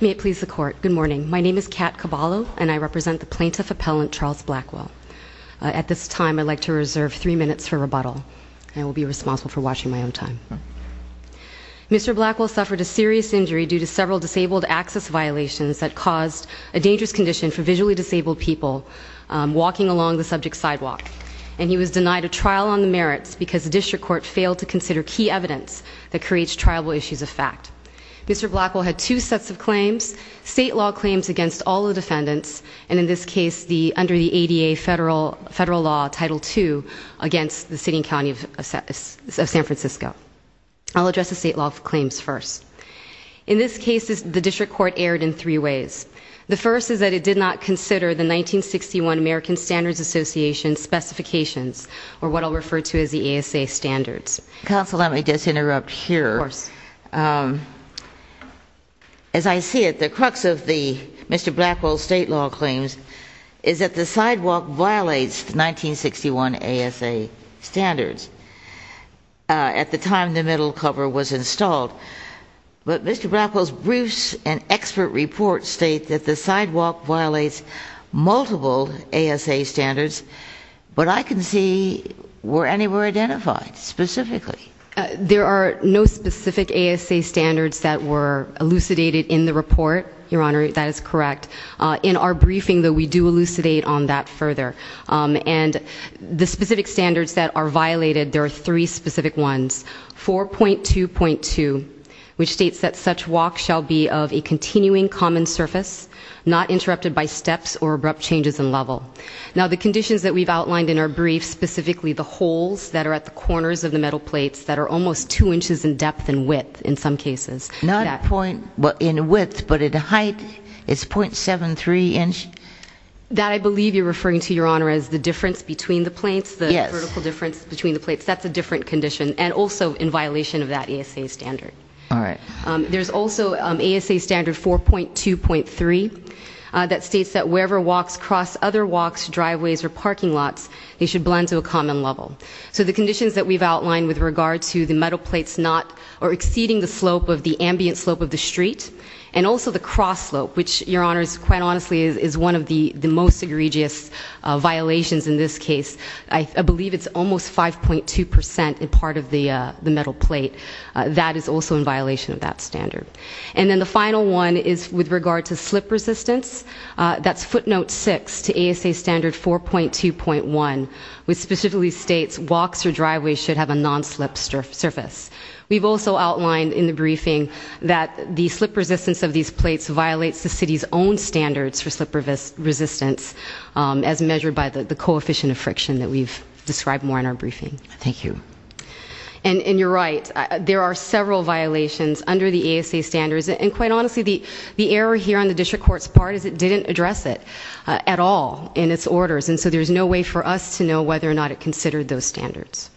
May it please the court, good morning. My name is Kat Caballo and I represent the plaintiff appellant Charles Blackwell. At this time I'd like to reserve three minutes for rebuttal. I will be responsible for watching my own time. Mr. Blackwell suffered a serious injury due to several disabled access violations that caused a dangerous condition for visually disabled people walking along the subject's sidewalk. And he was denied a trial on the merits because the district court failed to consider key evidence that creates triable issues of fact. Mr. Blackwell had two sets of claims, state law claims against all the defendants, and in this case under the ADA federal law, Title II, against the city and county of San Francisco. I'll address the state law claims first. In this case the district court erred in three ways. The first is that it did not consider the 1961 American Standards Association specifications, or what I'll refer to as the ASA standards. Counsel, let me just interrupt here. As I see it, the crux of Mr. Blackwell's state law claims is that the sidewalk violates the 1961 ASA standards at the time the middle cover was installed. But Mr. Blackwell's briefs and expert reports state that the sidewalk violates multiple ASA standards, but I can see where any were identified specifically. There are no specific ASA standards that were elucidated in the report, Your Honor, that is correct. In our briefing, though, we do elucidate on that further. And the specific standards that are violated, there are three specific ones. 4.2.2, which states that such walk shall be of a continuing common surface, not interrupted by steps or abrupt changes in level. Now, the conditions that we've outlined in our briefs, specifically the holes that are at the corners of the metal plates that are almost two inches in depth and width, in some cases. Not point in width, but at a height, it's .73 inches. That I believe you're referring to, Your Honor, as the difference between the plates, the vertical difference between the plates. That's a different condition, and also in violation of that ASA standard. All right. There's also ASA standard 4.2.3 that states that wherever walks cross other walks, driveways, or parking lots, they should blend to a common level. So the conditions that we've outlined with regard to the metal plates not or exceeding the slope of the ambient slope of the street, and also the cross slope, which, Your Honor, quite honestly is one of the most egregious violations in this case. I believe it's almost 5.2% in part of the metal plate. That is also in violation of that standard. And then the final one is with regard to slip resistance. That's footnote 6 to ASA standard 4.2.1, which specifically states walks or driveways should have a non-slip surface. We've also outlined in the briefing that the slip resistance of these plates violates the city's own standards for slip resistance as measured by the coefficient of friction that we've described more in our briefing. Thank you. And you're right. There are several violations under the ASA standards. And quite honestly, the error here on the district court's part is it didn't address it at all in its orders. And so there's no way for us to know whether or not it considered those standards.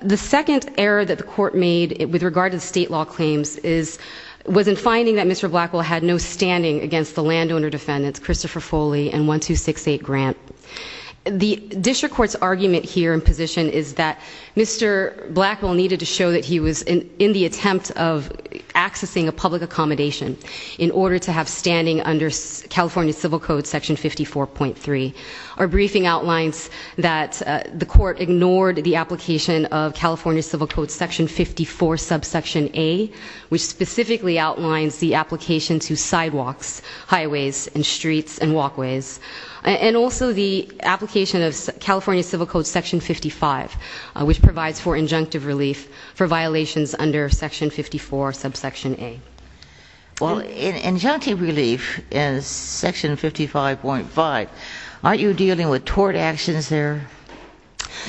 The second error that the court made with regard to the state law claims was in finding that Mr. Blackwell had no standing against the landowner defendants Christopher Foley and 1268 Grant. The district court's argument here in position is that Mr. Blackwell needed to show that he was in the attempt of accessing a public accommodation in order to have standing under California Civil Code section 54.3. Our briefing outlines that the court ignored the application of California Civil Code section 54 subsection A, which specifically outlines the application to sidewalks, highways, and streets and walkways. And also the application of California Civil Code section 55, which provides for injunctive relief for violations under section 54 subsection A. Well, injunctive relief in section 55.5, aren't you dealing with tort actions there?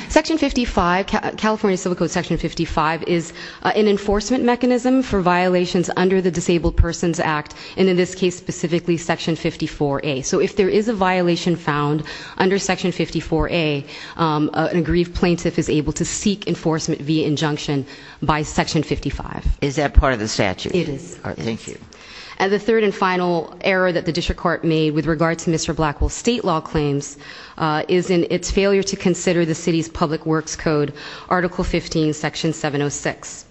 Section 55, California Civil Code section 55 is an enforcement mechanism for violations under the Disabled Persons Act, and in this case specifically section 54A. So if there is a violation found under section 54A, an aggrieved plaintiff is able to seek enforcement via injunction by section 55. Is that part of the statute? It is. Thank you. And the third and final error that the district court made with regard to Mr. Blackwell's state law claims is in its failure to consider the city's public works code, article 15, section 706.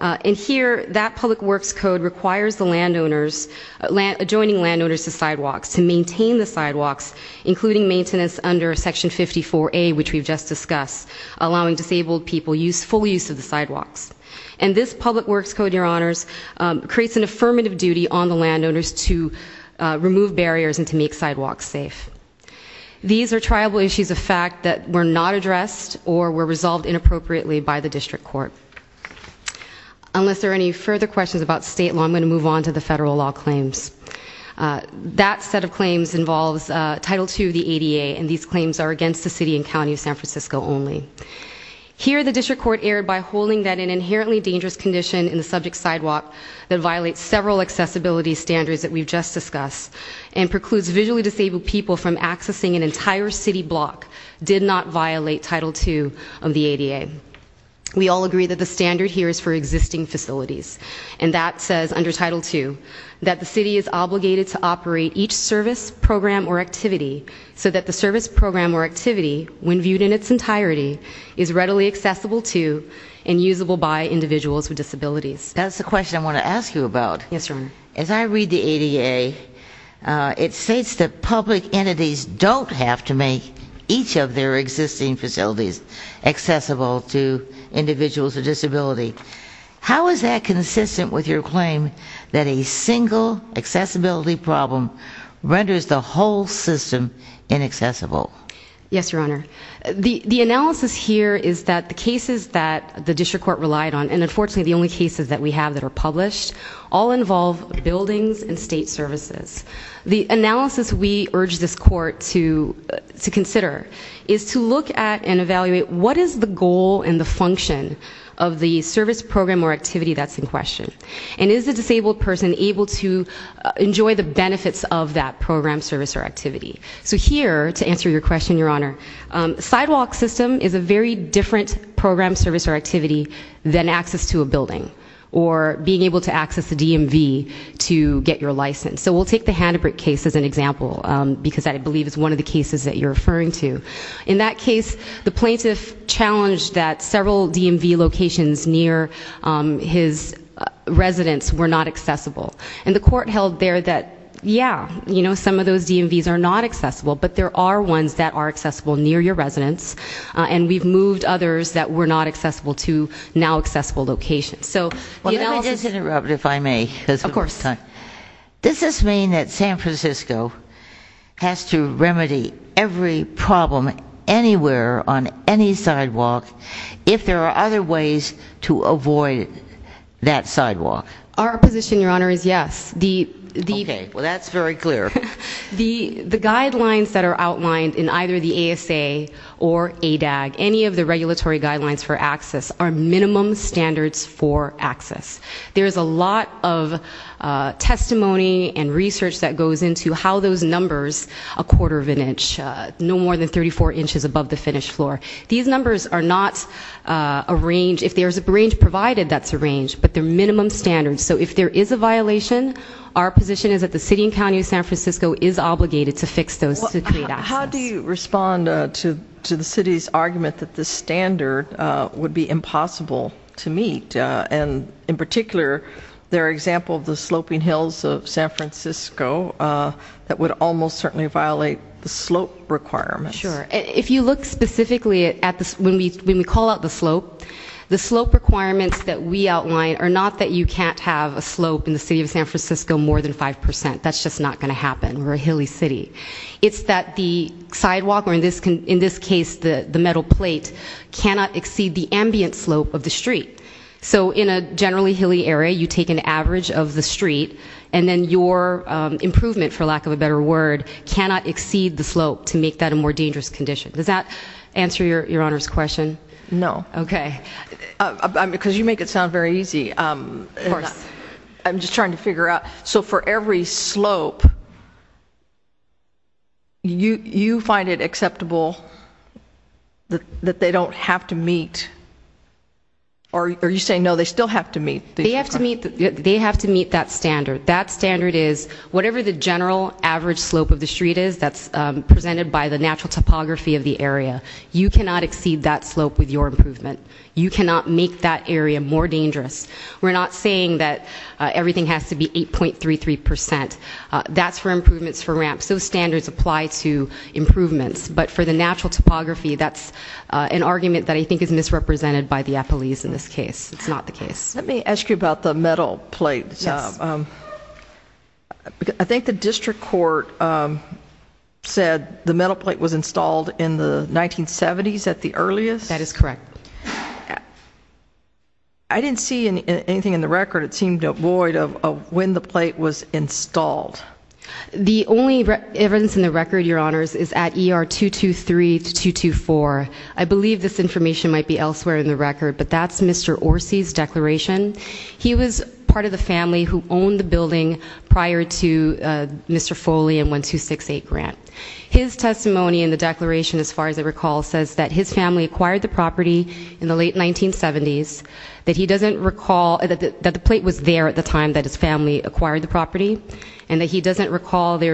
And here, that public works code requires the landowners, adjoining landowners to sidewalks to maintain the sidewalks, including maintenance under section 54A, which we've just discussed, allowing disabled people full use of the sidewalks. And this public works code, your honors, creates an affirmative duty on the landowners to remove barriers and to make sidewalks safe. These are triable issues of fact that were not addressed or were resolved inappropriately by the district court. Unless there are any further questions about state law, I'm going to move on to the federal law claims. That set of claims involves Title II of the ADA, and these claims are against the city and county of San Francisco only. Here, the district court erred by holding that an inherently dangerous condition in the subject sidewalk that violates several accessibility standards that we've just discussed and precludes visually disabled people from accessing an entire city block did not violate Title II of the ADA. We all agree that the standard here is for existing facilities, and that says under Title II that the city is obligated to operate each service, program, or activity so that the service, program, or activity, when viewed in its entirety, is readily accessible to and usable by individuals with disabilities. That's the question I want to ask you about. Yes, Your Honor. As I read the ADA, it states that public entities don't have to make each of their existing facilities accessible to individuals with disability. How is that consistent with your claim that a single accessibility problem renders the whole system inaccessible? Yes, Your Honor. The analysis here is that the cases that the district court relied on, and unfortunately the only cases that we have that are published, all involve buildings and state services. The analysis we urge this court to consider is to look at and evaluate, what is the goal and the function of the service, program, or activity that's in question? And is the disabled person able to enjoy the benefits of that program, service, or activity? So here, to answer your question, Your Honor, sidewalk system is a very different program, service, or activity than access to a building or being able to access a DMV to get your license. So we'll take the Hanabric case as an example, because I believe it's one of the cases that you're referring to. In that case, the plaintiff challenged that several DMV locations near his residence were not accessible. And the court held there that, yeah, you know, some of those DMVs are not accessible, but there are ones that are accessible near your residence, and we've moved others that were not accessible to now-accessible locations. Let me just interrupt, if I may. Of course. Does this mean that San Francisco has to remedy every problem anywhere on any sidewalk if there are other ways to avoid that sidewalk? Our position, Your Honor, is yes. Okay. Well, that's very clear. The guidelines that are outlined in either the ASA or ADAG, any of the regulatory guidelines for access, are minimum standards for access. There is a lot of testimony and research that goes into how those numbers, a quarter of an inch, no more than 34 inches above the finished floor, these numbers are not a range. If there's a range provided, that's a range, but they're minimum standards. So if there is a violation, our position is that the city and county of San Francisco is obligated to fix those to create access. How do you respond to the city's argument that this standard would be impossible to meet, and in particular their example of the sloping hills of San Francisco that would almost certainly violate the slope requirements? Sure. If you look specifically at this, when we call out the slope, the slope requirements that we outline are not that you can't have a slope in the city of San Francisco more than 5 percent. That's just not going to happen. We're a hilly city. It's that the sidewalk, or in this case the metal plate, cannot exceed the ambient slope of the street. So in a generally hilly area, you take an average of the street, and then your improvement, for lack of a better word, cannot exceed the slope to make that a more dangerous condition. Does that answer your Honor's question? No. Okay. Because you make it sound very easy. Of course. I'm just trying to figure out. So for every slope, you find it acceptable that they don't have to meet? Or are you saying no, they still have to meet? They have to meet that standard. That standard is whatever the general average slope of the street is that's presented by the natural topography of the area. You cannot exceed that slope with your improvement. You cannot make that area more dangerous. We're not saying that everything has to be 8.33%. That's for improvements for ramps. Those standards apply to improvements. But for the natural topography, that's an argument that I think is misrepresented by the appellees in this case. It's not the case. Let me ask you about the metal plate. Yes. I think the district court said the metal plate was installed in the 1970s at the earliest? That is correct. I didn't see anything in the record. It seemed void of when the plate was installed. The only evidence in the record, Your Honors, is at ER 223 to 224. I believe this information might be elsewhere in the record, but that's Mr. Orsi's declaration. He was part of the family who owned the building prior to Mr. Foley and 1268 Grant. His testimony in the declaration, as far as I recall, says that his family acquired the property in the late 1970s, that he doesn't recall that the plate was there at the time that his family acquired the property, and that he doesn't recall that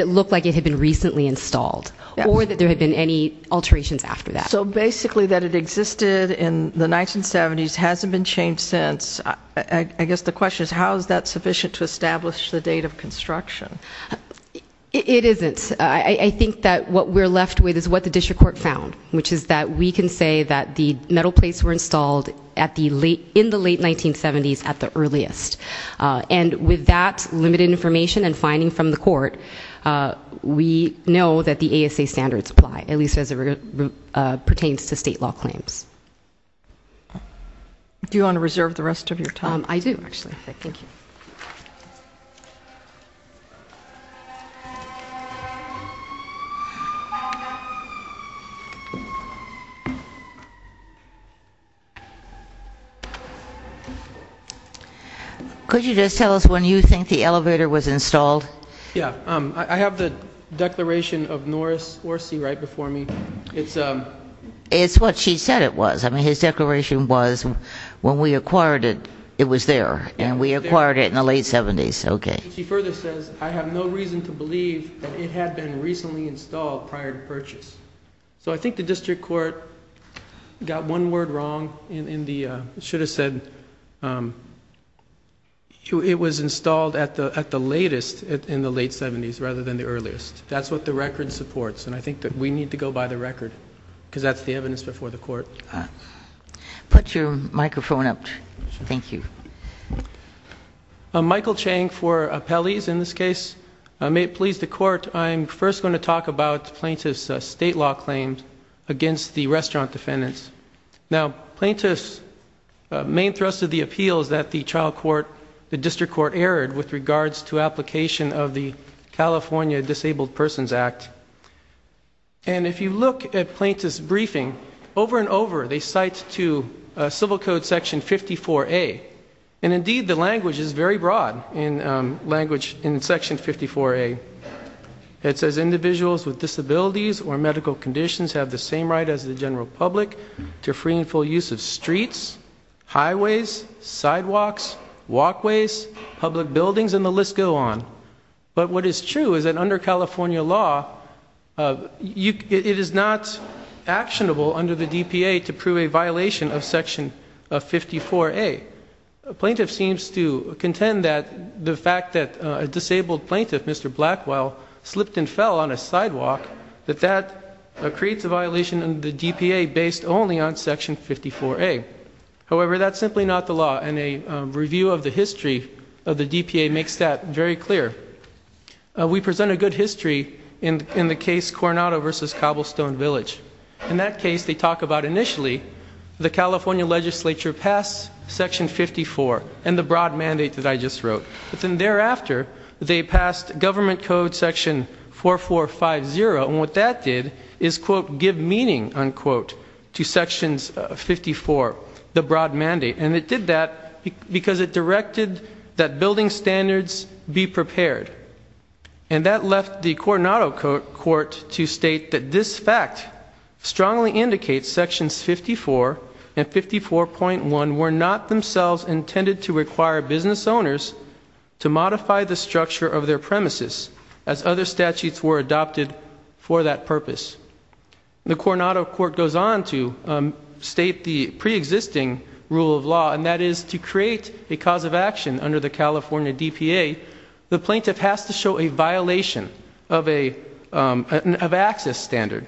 it looked like it had been recently installed or that there had been any alterations after that. So basically that it existed in the 1970s hasn't been changed since. I guess the question is how is that sufficient to establish the date of construction? It isn't. I think that what we're left with is what the district court found, which is that we can say that the metal plates were installed in the late 1970s at the earliest. And with that limited information and finding from the court, we know that the ASA standards apply, at least as it pertains to state law claims. Do you want to reserve the rest of your time? I do, actually. Thank you. Could you just tell us when you think the elevator was installed? Yeah. I have the declaration of Norris Orsi right before me. It's what she said it was. His declaration was when we acquired it, it was there, and we acquired it in the late 1970s. She further says, I have no reason to believe that it had been recently installed prior to purchase. So I think the district court got one word wrong and should have said it was installed at the latest, in the late 1970s, rather than the earliest. That's what the record supports, and I think that we need to go by the record because that's the evidence before the court. Put your microphone up. Thank you. Michael Chang for Appellees in this case. May it please the court, I'm first going to talk about plaintiff's state law claims against the restaurant defendants. Now, plaintiff's main thrust of the appeal is that the trial court, the district court, erred with regards to application of the California Disabled Persons Act. And if you look at plaintiff's briefing, over and over they cite to civil code section 54A, and indeed the language is very broad in section 54A. It says individuals with disabilities or medical conditions have the same right as the general public to free and full use of streets, highways, sidewalks, walkways, public buildings, and the list go on. But what is true is that under California law, it is not actionable under the DPA to prove a violation of section 54A. Plaintiff seems to contend that the fact that a disabled plaintiff, Mr. Blackwell, slipped and fell on a sidewalk, that that creates a violation of the DPA based only on section 54A. However, that's simply not the law, and a review of the history of the DPA makes that very clear. We present a good history in the case Coronado v. Cobblestone Village. In that case, they talk about initially the California legislature passed section 54 and the broad mandate that I just wrote. But then thereafter, they passed government code section 4450, and what that did is, quote, give meaning, unquote, to sections 54, the broad mandate. And it did that because it directed that building standards be prepared. And that left the Coronado court to state that this fact strongly indicates sections 54 and 54.1 were not themselves intended to require business owners to modify the structure of their premises, as other statutes were adopted for that purpose. The Coronado court goes on to state the preexisting rule of law, and that is to create a cause of action under the California DPA, the plaintiff has to show a violation of an access standard.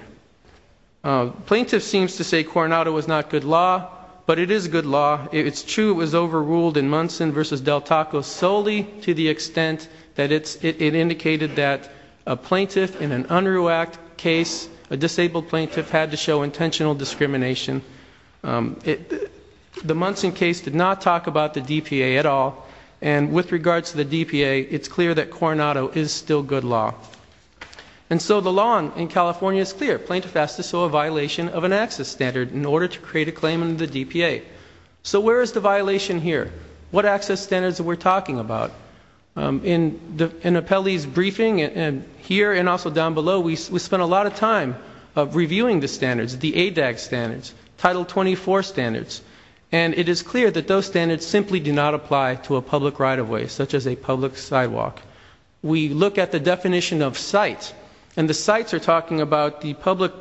Plaintiff seems to say Coronado is not good law, but it is good law. It's true it was overruled in Munson v. Del Taco solely to the extent that it indicated that a plaintiff in an UNRU Act case, a disabled plaintiff, had to show intentional discrimination. The Munson case did not talk about the DPA at all, and with regards to the DPA, it's clear that Coronado is still good law. And so the law in California is clear. Plaintiff has to show a violation of an access standard in order to create a claim under the DPA. So where is the violation here? What access standards are we talking about? In Apelli's briefing here and also down below, we spent a lot of time reviewing the standards, the ADAG standards, Title 24 standards, and it is clear that those standards simply do not apply to a public right-of-way such as a public sidewalk. We look at the definition of sites, and the sites are talking about the public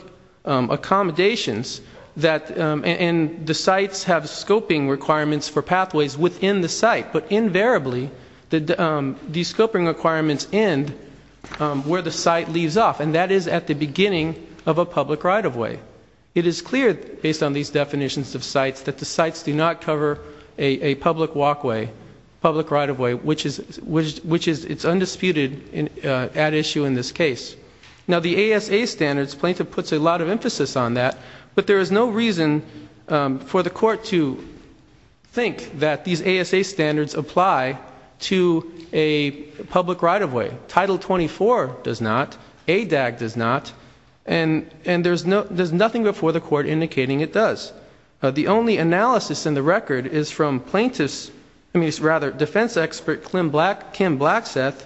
accommodations, and the sites have scoping requirements for pathways within the site, but invariably these scoping requirements end where the site leaves off, and that is at the beginning of a public right-of-way. It is clear based on these definitions of sites that the sites do not cover a public walkway, public right-of-way, which is undisputed at issue in this case. Now the ASA standards, plaintiff puts a lot of emphasis on that, but there is no reason for the court to think that these ASA standards apply to a public right-of-way. Title 24 does not, ADAG does not, and there is nothing before the court indicating it does. The only analysis in the record is from defense expert Kim Blackseth,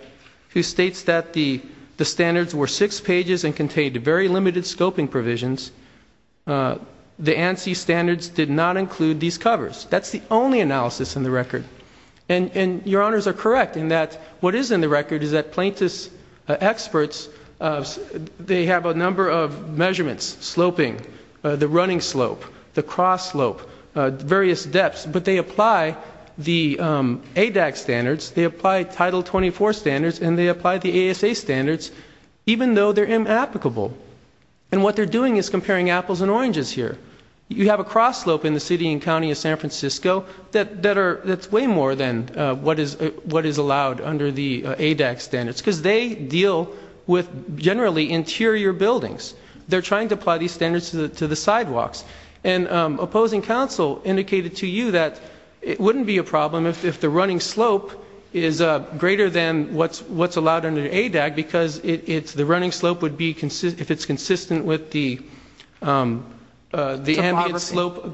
who states that the standards were six pages and contained very limited scoping provisions. The ANSI standards did not include these covers. That is the only analysis in the record. And your honors are correct in that what is in the record is that plaintiff's experts, they have a number of measurements, sloping, the running slope, the cross slope, various depths, but they apply the ADAG standards, they apply Title 24 standards, and they apply the ASA standards even though they're inapplicable. And what they're doing is comparing apples and oranges here. You have a cross slope in the city and county of San Francisco that's way more than what is allowed under the ADAG standards because they deal with generally interior buildings. They're trying to apply these standards to the sidewalks. And opposing counsel indicated to you that it wouldn't be a problem if the running slope is greater than what's allowed under ADAG because the running slope would be, if it's consistent with the ambient slope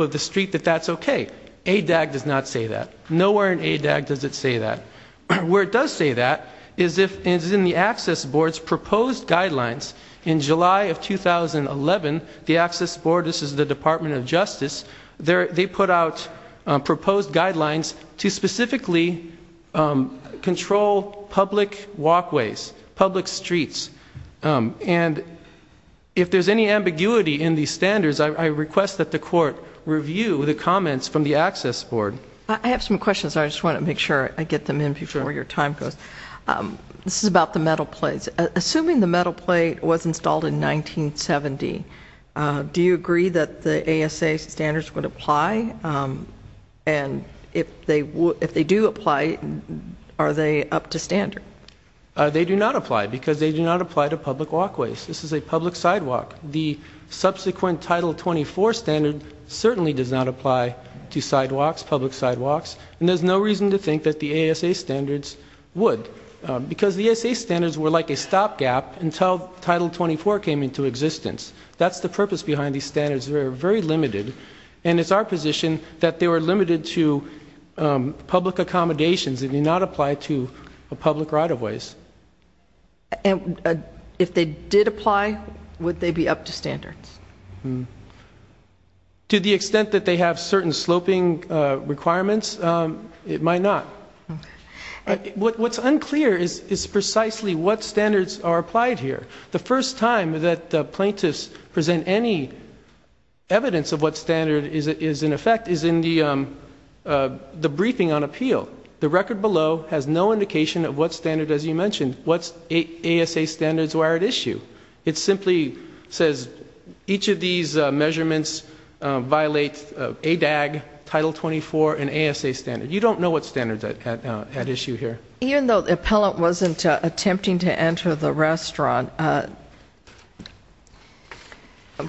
of the street, that that's okay. ADAG does not say that. Nowhere in ADAG does it say that. Where it does say that is in the Access Board's proposed guidelines. In July of 2011, the Access Board, this is the Department of Justice, they put out proposed guidelines to specifically control public walkways, public streets. And if there's any ambiguity in these standards, I request that the court review the comments from the Access Board. I have some questions. I just want to make sure I get them in before your time goes. This is about the metal plates. Assuming the metal plate was installed in 1970, do you agree that the ASA standards would apply? And if they do apply, are they up to standard? They do not apply because they do not apply to public walkways. This is a public sidewalk. The subsequent Title 24 standard certainly does not apply to sidewalks, public sidewalks, and there's no reason to think that the ASA standards would Because the ASA standards were like a stopgap until Title 24 came into existence. That's the purpose behind these standards. They're very limited. And it's our position that they were limited to public accommodations. They do not apply to public right-of-ways. And if they did apply, would they be up to standards? To the extent that they have certain sloping requirements, it might not. What's unclear is precisely what standards are applied here. The first time that plaintiffs present any evidence of what standard is in effect is in the briefing on appeal. The record below has no indication of what standard, as you mentioned, what ASA standards were at issue. It simply says each of these measurements violate ADAG, Title 24, and ASA standards. You don't know what standards are at issue here. Even though the appellant wasn't attempting to enter the restaurant, I'm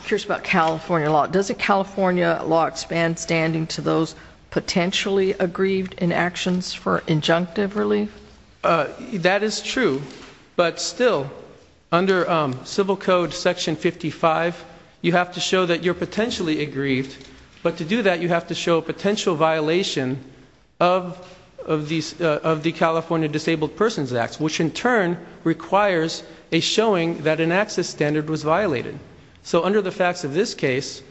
curious about California law. Does the California law expand standing to those potentially aggrieved in actions for injunctive relief? That is true. But still, under Civil Code Section 55, you have to show that you're potentially aggrieved. But to do that, you have to show a potential violation of the California Disabled Persons Act, which in turn requires a showing that an access standard was violated. So under the facts of this case,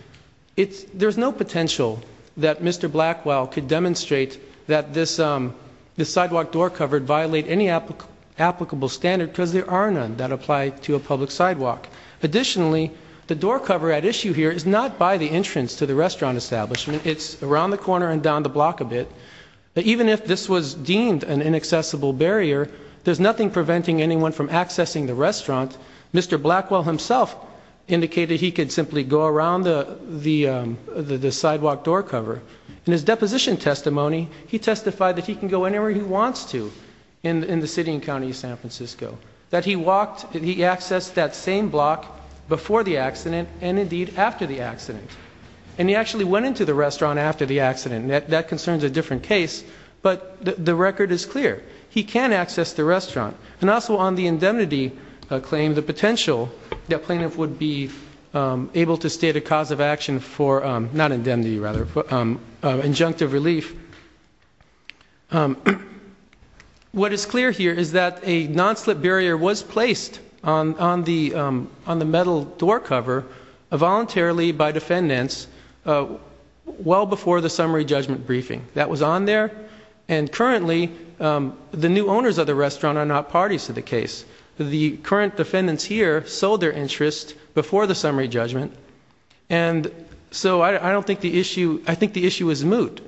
there's no potential that Mr. Blackwell could demonstrate that this sidewalk door cover violated any applicable standard because there are none that apply to a public sidewalk. Additionally, the door cover at issue here is not by the entrance to the restaurant establishment. It's around the corner and down the block a bit. Even if this was deemed an inaccessible barrier, there's nothing preventing anyone from accessing the restaurant. Mr. Blackwell himself indicated he could simply go around the sidewalk door cover. In his deposition testimony, he testified that he can go anywhere he wants to in the city and county of San Francisco. That he accessed that same block before the accident and, indeed, after the accident. And he actually went into the restaurant after the accident. That concerns a different case, but the record is clear. He can access the restaurant. And also on the indemnity claim, the potential that plaintiff would be able to state a cause of action for injunctive relief. What is clear here is that a non-slip barrier was placed on the metal door cover voluntarily by defendants well before the summary judgment briefing. That was on there. And currently, the new owners of the restaurant are not parties to the case. The current defendants here sold their interest before the summary judgment. And so I think the issue is moot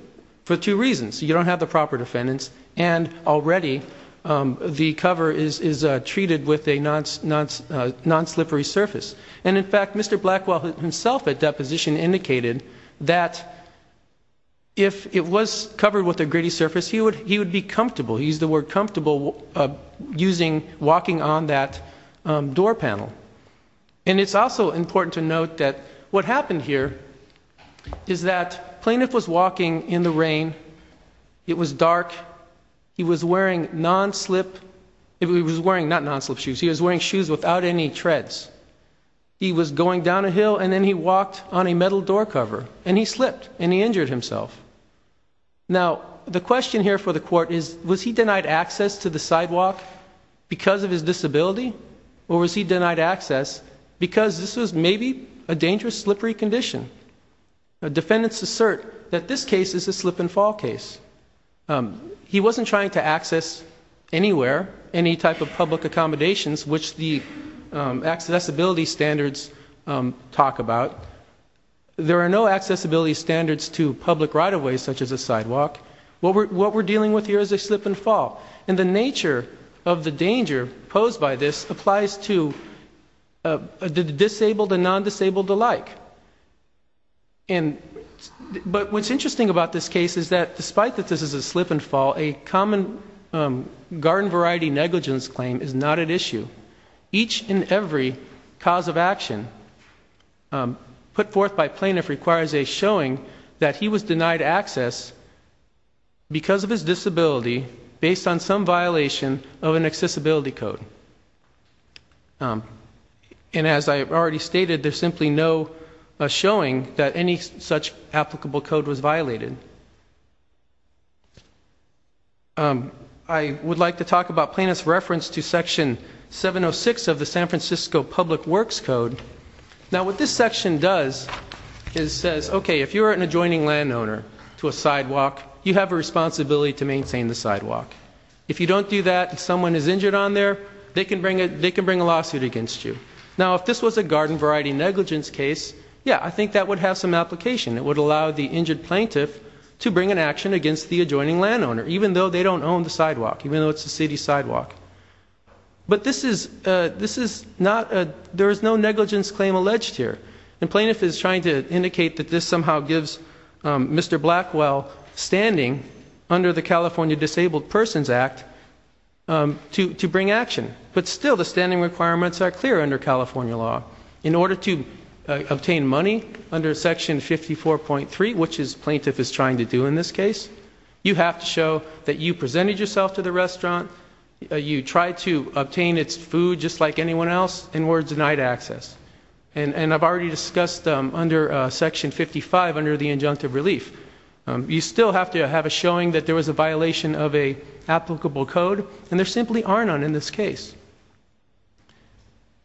for two reasons. You don't have the proper defendants, and already the cover is treated with a non-slippery surface. And, in fact, Mr. Blackwell himself at deposition indicated that if it was covered with a gritty surface, he would be comfortable. He used the word comfortable walking on that door panel. And it's also important to note that what happened here is that plaintiff was walking in the rain. It was dark. He was wearing non-slip. He was wearing not non-slip shoes. He was wearing shoes without any treads. He was going down a hill, and then he walked on a metal door cover, and he slipped, and he injured himself. Now, the question here for the court is, was he denied access to the sidewalk because of his disability? Or was he denied access because this was maybe a dangerous, slippery condition? Defendants assert that this case is a slip-and-fall case. He wasn't trying to access anywhere any type of public accommodations, which the accessibility standards talk about. There are no accessibility standards to public right-of-way, such as a sidewalk. What we're dealing with here is a slip-and-fall. And the nature of the danger posed by this applies to the disabled and non-disabled alike. But what's interesting about this case is that despite that this is a slip-and-fall, a common garden variety negligence claim is not at issue. Each and every cause of action put forth by plaintiff requires a showing that he was denied access because of his disability, based on some violation of an accessibility code. And as I already stated, there's simply no showing that any such applicable code was violated. I would like to talk about plaintiff's reference to Section 706 of the San Francisco Public Works Code. Now, what this section does is says, okay, if you're an adjoining landowner to a sidewalk, you have a responsibility to maintain the sidewalk. If you don't do that and someone is injured on there, they can bring a lawsuit against you. Now, if this was a garden variety negligence case, yeah, I think that would have some application. It would allow the injured plaintiff to bring an action against the adjoining landowner, even though they don't own the sidewalk, even though it's a city sidewalk. But there is no negligence claim alleged here. And plaintiff is trying to indicate that this somehow gives Mr. Blackwell standing under the California Disabled Persons Act to bring action. But still, the standing requirements are clear under California law. In order to obtain money under Section 54.3, which plaintiff is trying to do in this case, you have to show that you presented yourself to the restaurant, you tried to obtain its food just like anyone else, and were denied access. And I've already discussed under Section 55 under the injunctive relief. You still have to have a showing that there was a violation of an applicable code. And there simply are none in this case.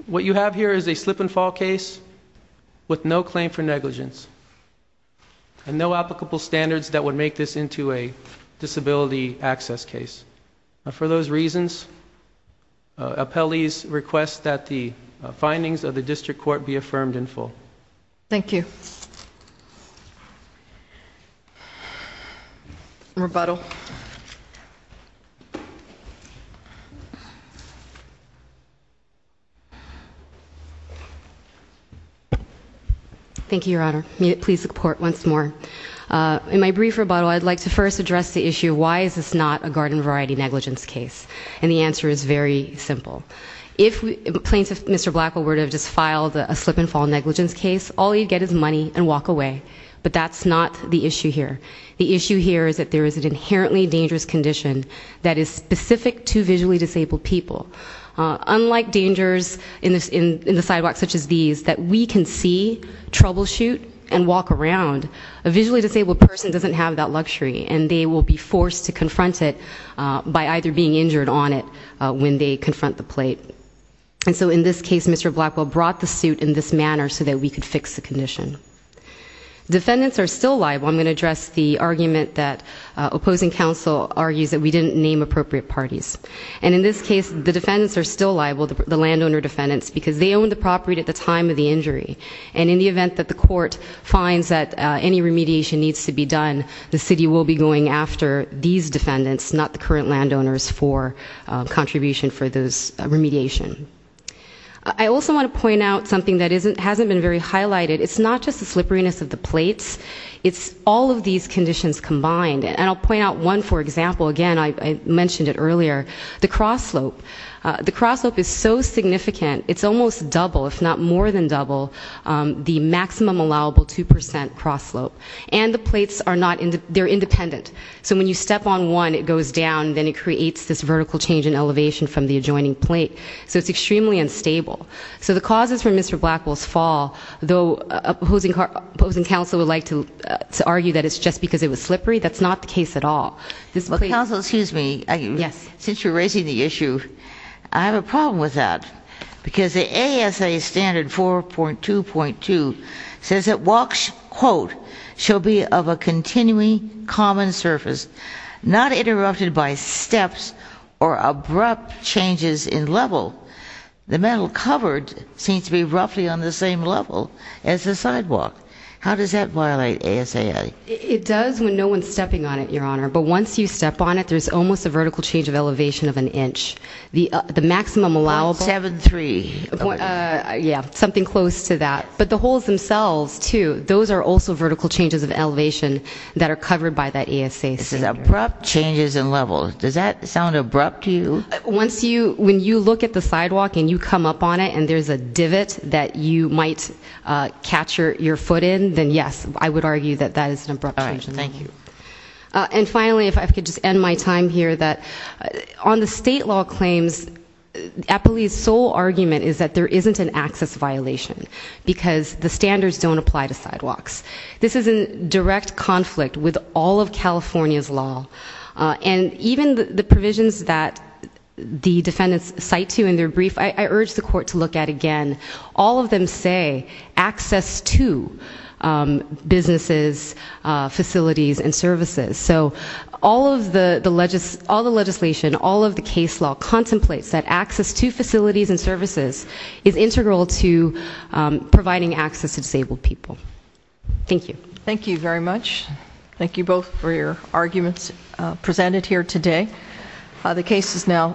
What you have here is a slip and fall case with no claim for negligence. And no applicable standards that would make this into a disability access case. For those reasons, appellees request that the findings of the district court be affirmed in full. Thank you. Rebuttal. Rebuttal. Thank you, Your Honor. May it please report once more. In my brief rebuttal, I'd like to first address the issue, why is this not a garden variety negligence case? And the answer is very simple. If plaintiff Mr. Blackwell were to have just filed a slip and fall negligence case, all he'd get is money and walk away. But that's not the issue here. The issue here is that there is an inherently dangerous condition that is specific to visually disabled people. Unlike dangers in the sidewalk such as these, that we can see, troubleshoot, and walk around, a visually disabled person doesn't have that luxury. And they will be forced to confront it by either being injured on it when they confront the plate. And so in this case, Mr. Blackwell brought the suit in this manner so that we could fix the condition. Defendants are still liable. I'm going to address the argument that opposing counsel argues that we didn't name appropriate parties. And in this case, the defendants are still liable, the landowner defendants, because they owned the property at the time of the injury. And in the event that the court finds that any remediation needs to be done, the city will be going after these defendants, not the current landowners, for contribution for this remediation. I also want to point out something that hasn't been very highlighted. It's not just the slipperiness of the plates. It's all of these conditions combined. And I'll point out one, for example. Again, I mentioned it earlier. The cross slope. The cross slope is so significant, it's almost double, if not more than double, the maximum allowable 2% cross slope. And the plates are independent. So when you step on one, it goes down, then it creates this vertical change in elevation from the adjoining plate. So it's extremely unstable. So the causes for Mr. Blackwell's fall, though opposing counsel would like to argue that it's just because it was slippery, that's not the case at all. Counsel, excuse me. Yes. Since you're raising the issue, I have a problem with that. Because the ASA standard 4.2.2 says that walks, quote, shall be of a continually common surface, not interrupted by steps or abrupt changes in level. The metal covered seems to be roughly on the same level as the sidewalk. How does that violate ASA? It does when no one's stepping on it, Your Honor. But once you step on it, there's almost a vertical change of elevation of an inch. The maximum allowable. 7.3. Yeah, something close to that. But the holes themselves, too, those are also vertical changes of elevation that are covered by that ASA standard. This is abrupt changes in level. Does that sound abrupt to you? Once you, when you look at the sidewalk and you come up on it and there's a divot that you might catch your foot in, then, yes, I would argue that that is an abrupt change in level. All right. Thank you. And finally, if I could just end my time here, that on the state law claims, Appley's sole argument is that there isn't an access violation because the standards don't apply to sidewalks. This is in direct conflict with all of California's law. And even the provisions that the defendants cite to in their brief, I urge the court to look at again. All of them say access to businesses, facilities, and services. So all of the legislation, all of the case law contemplates that access to facilities and services is integral to providing access to disabled people. Thank you. Thank you very much. Thank you both for your arguments presented here today. The case is now submitted.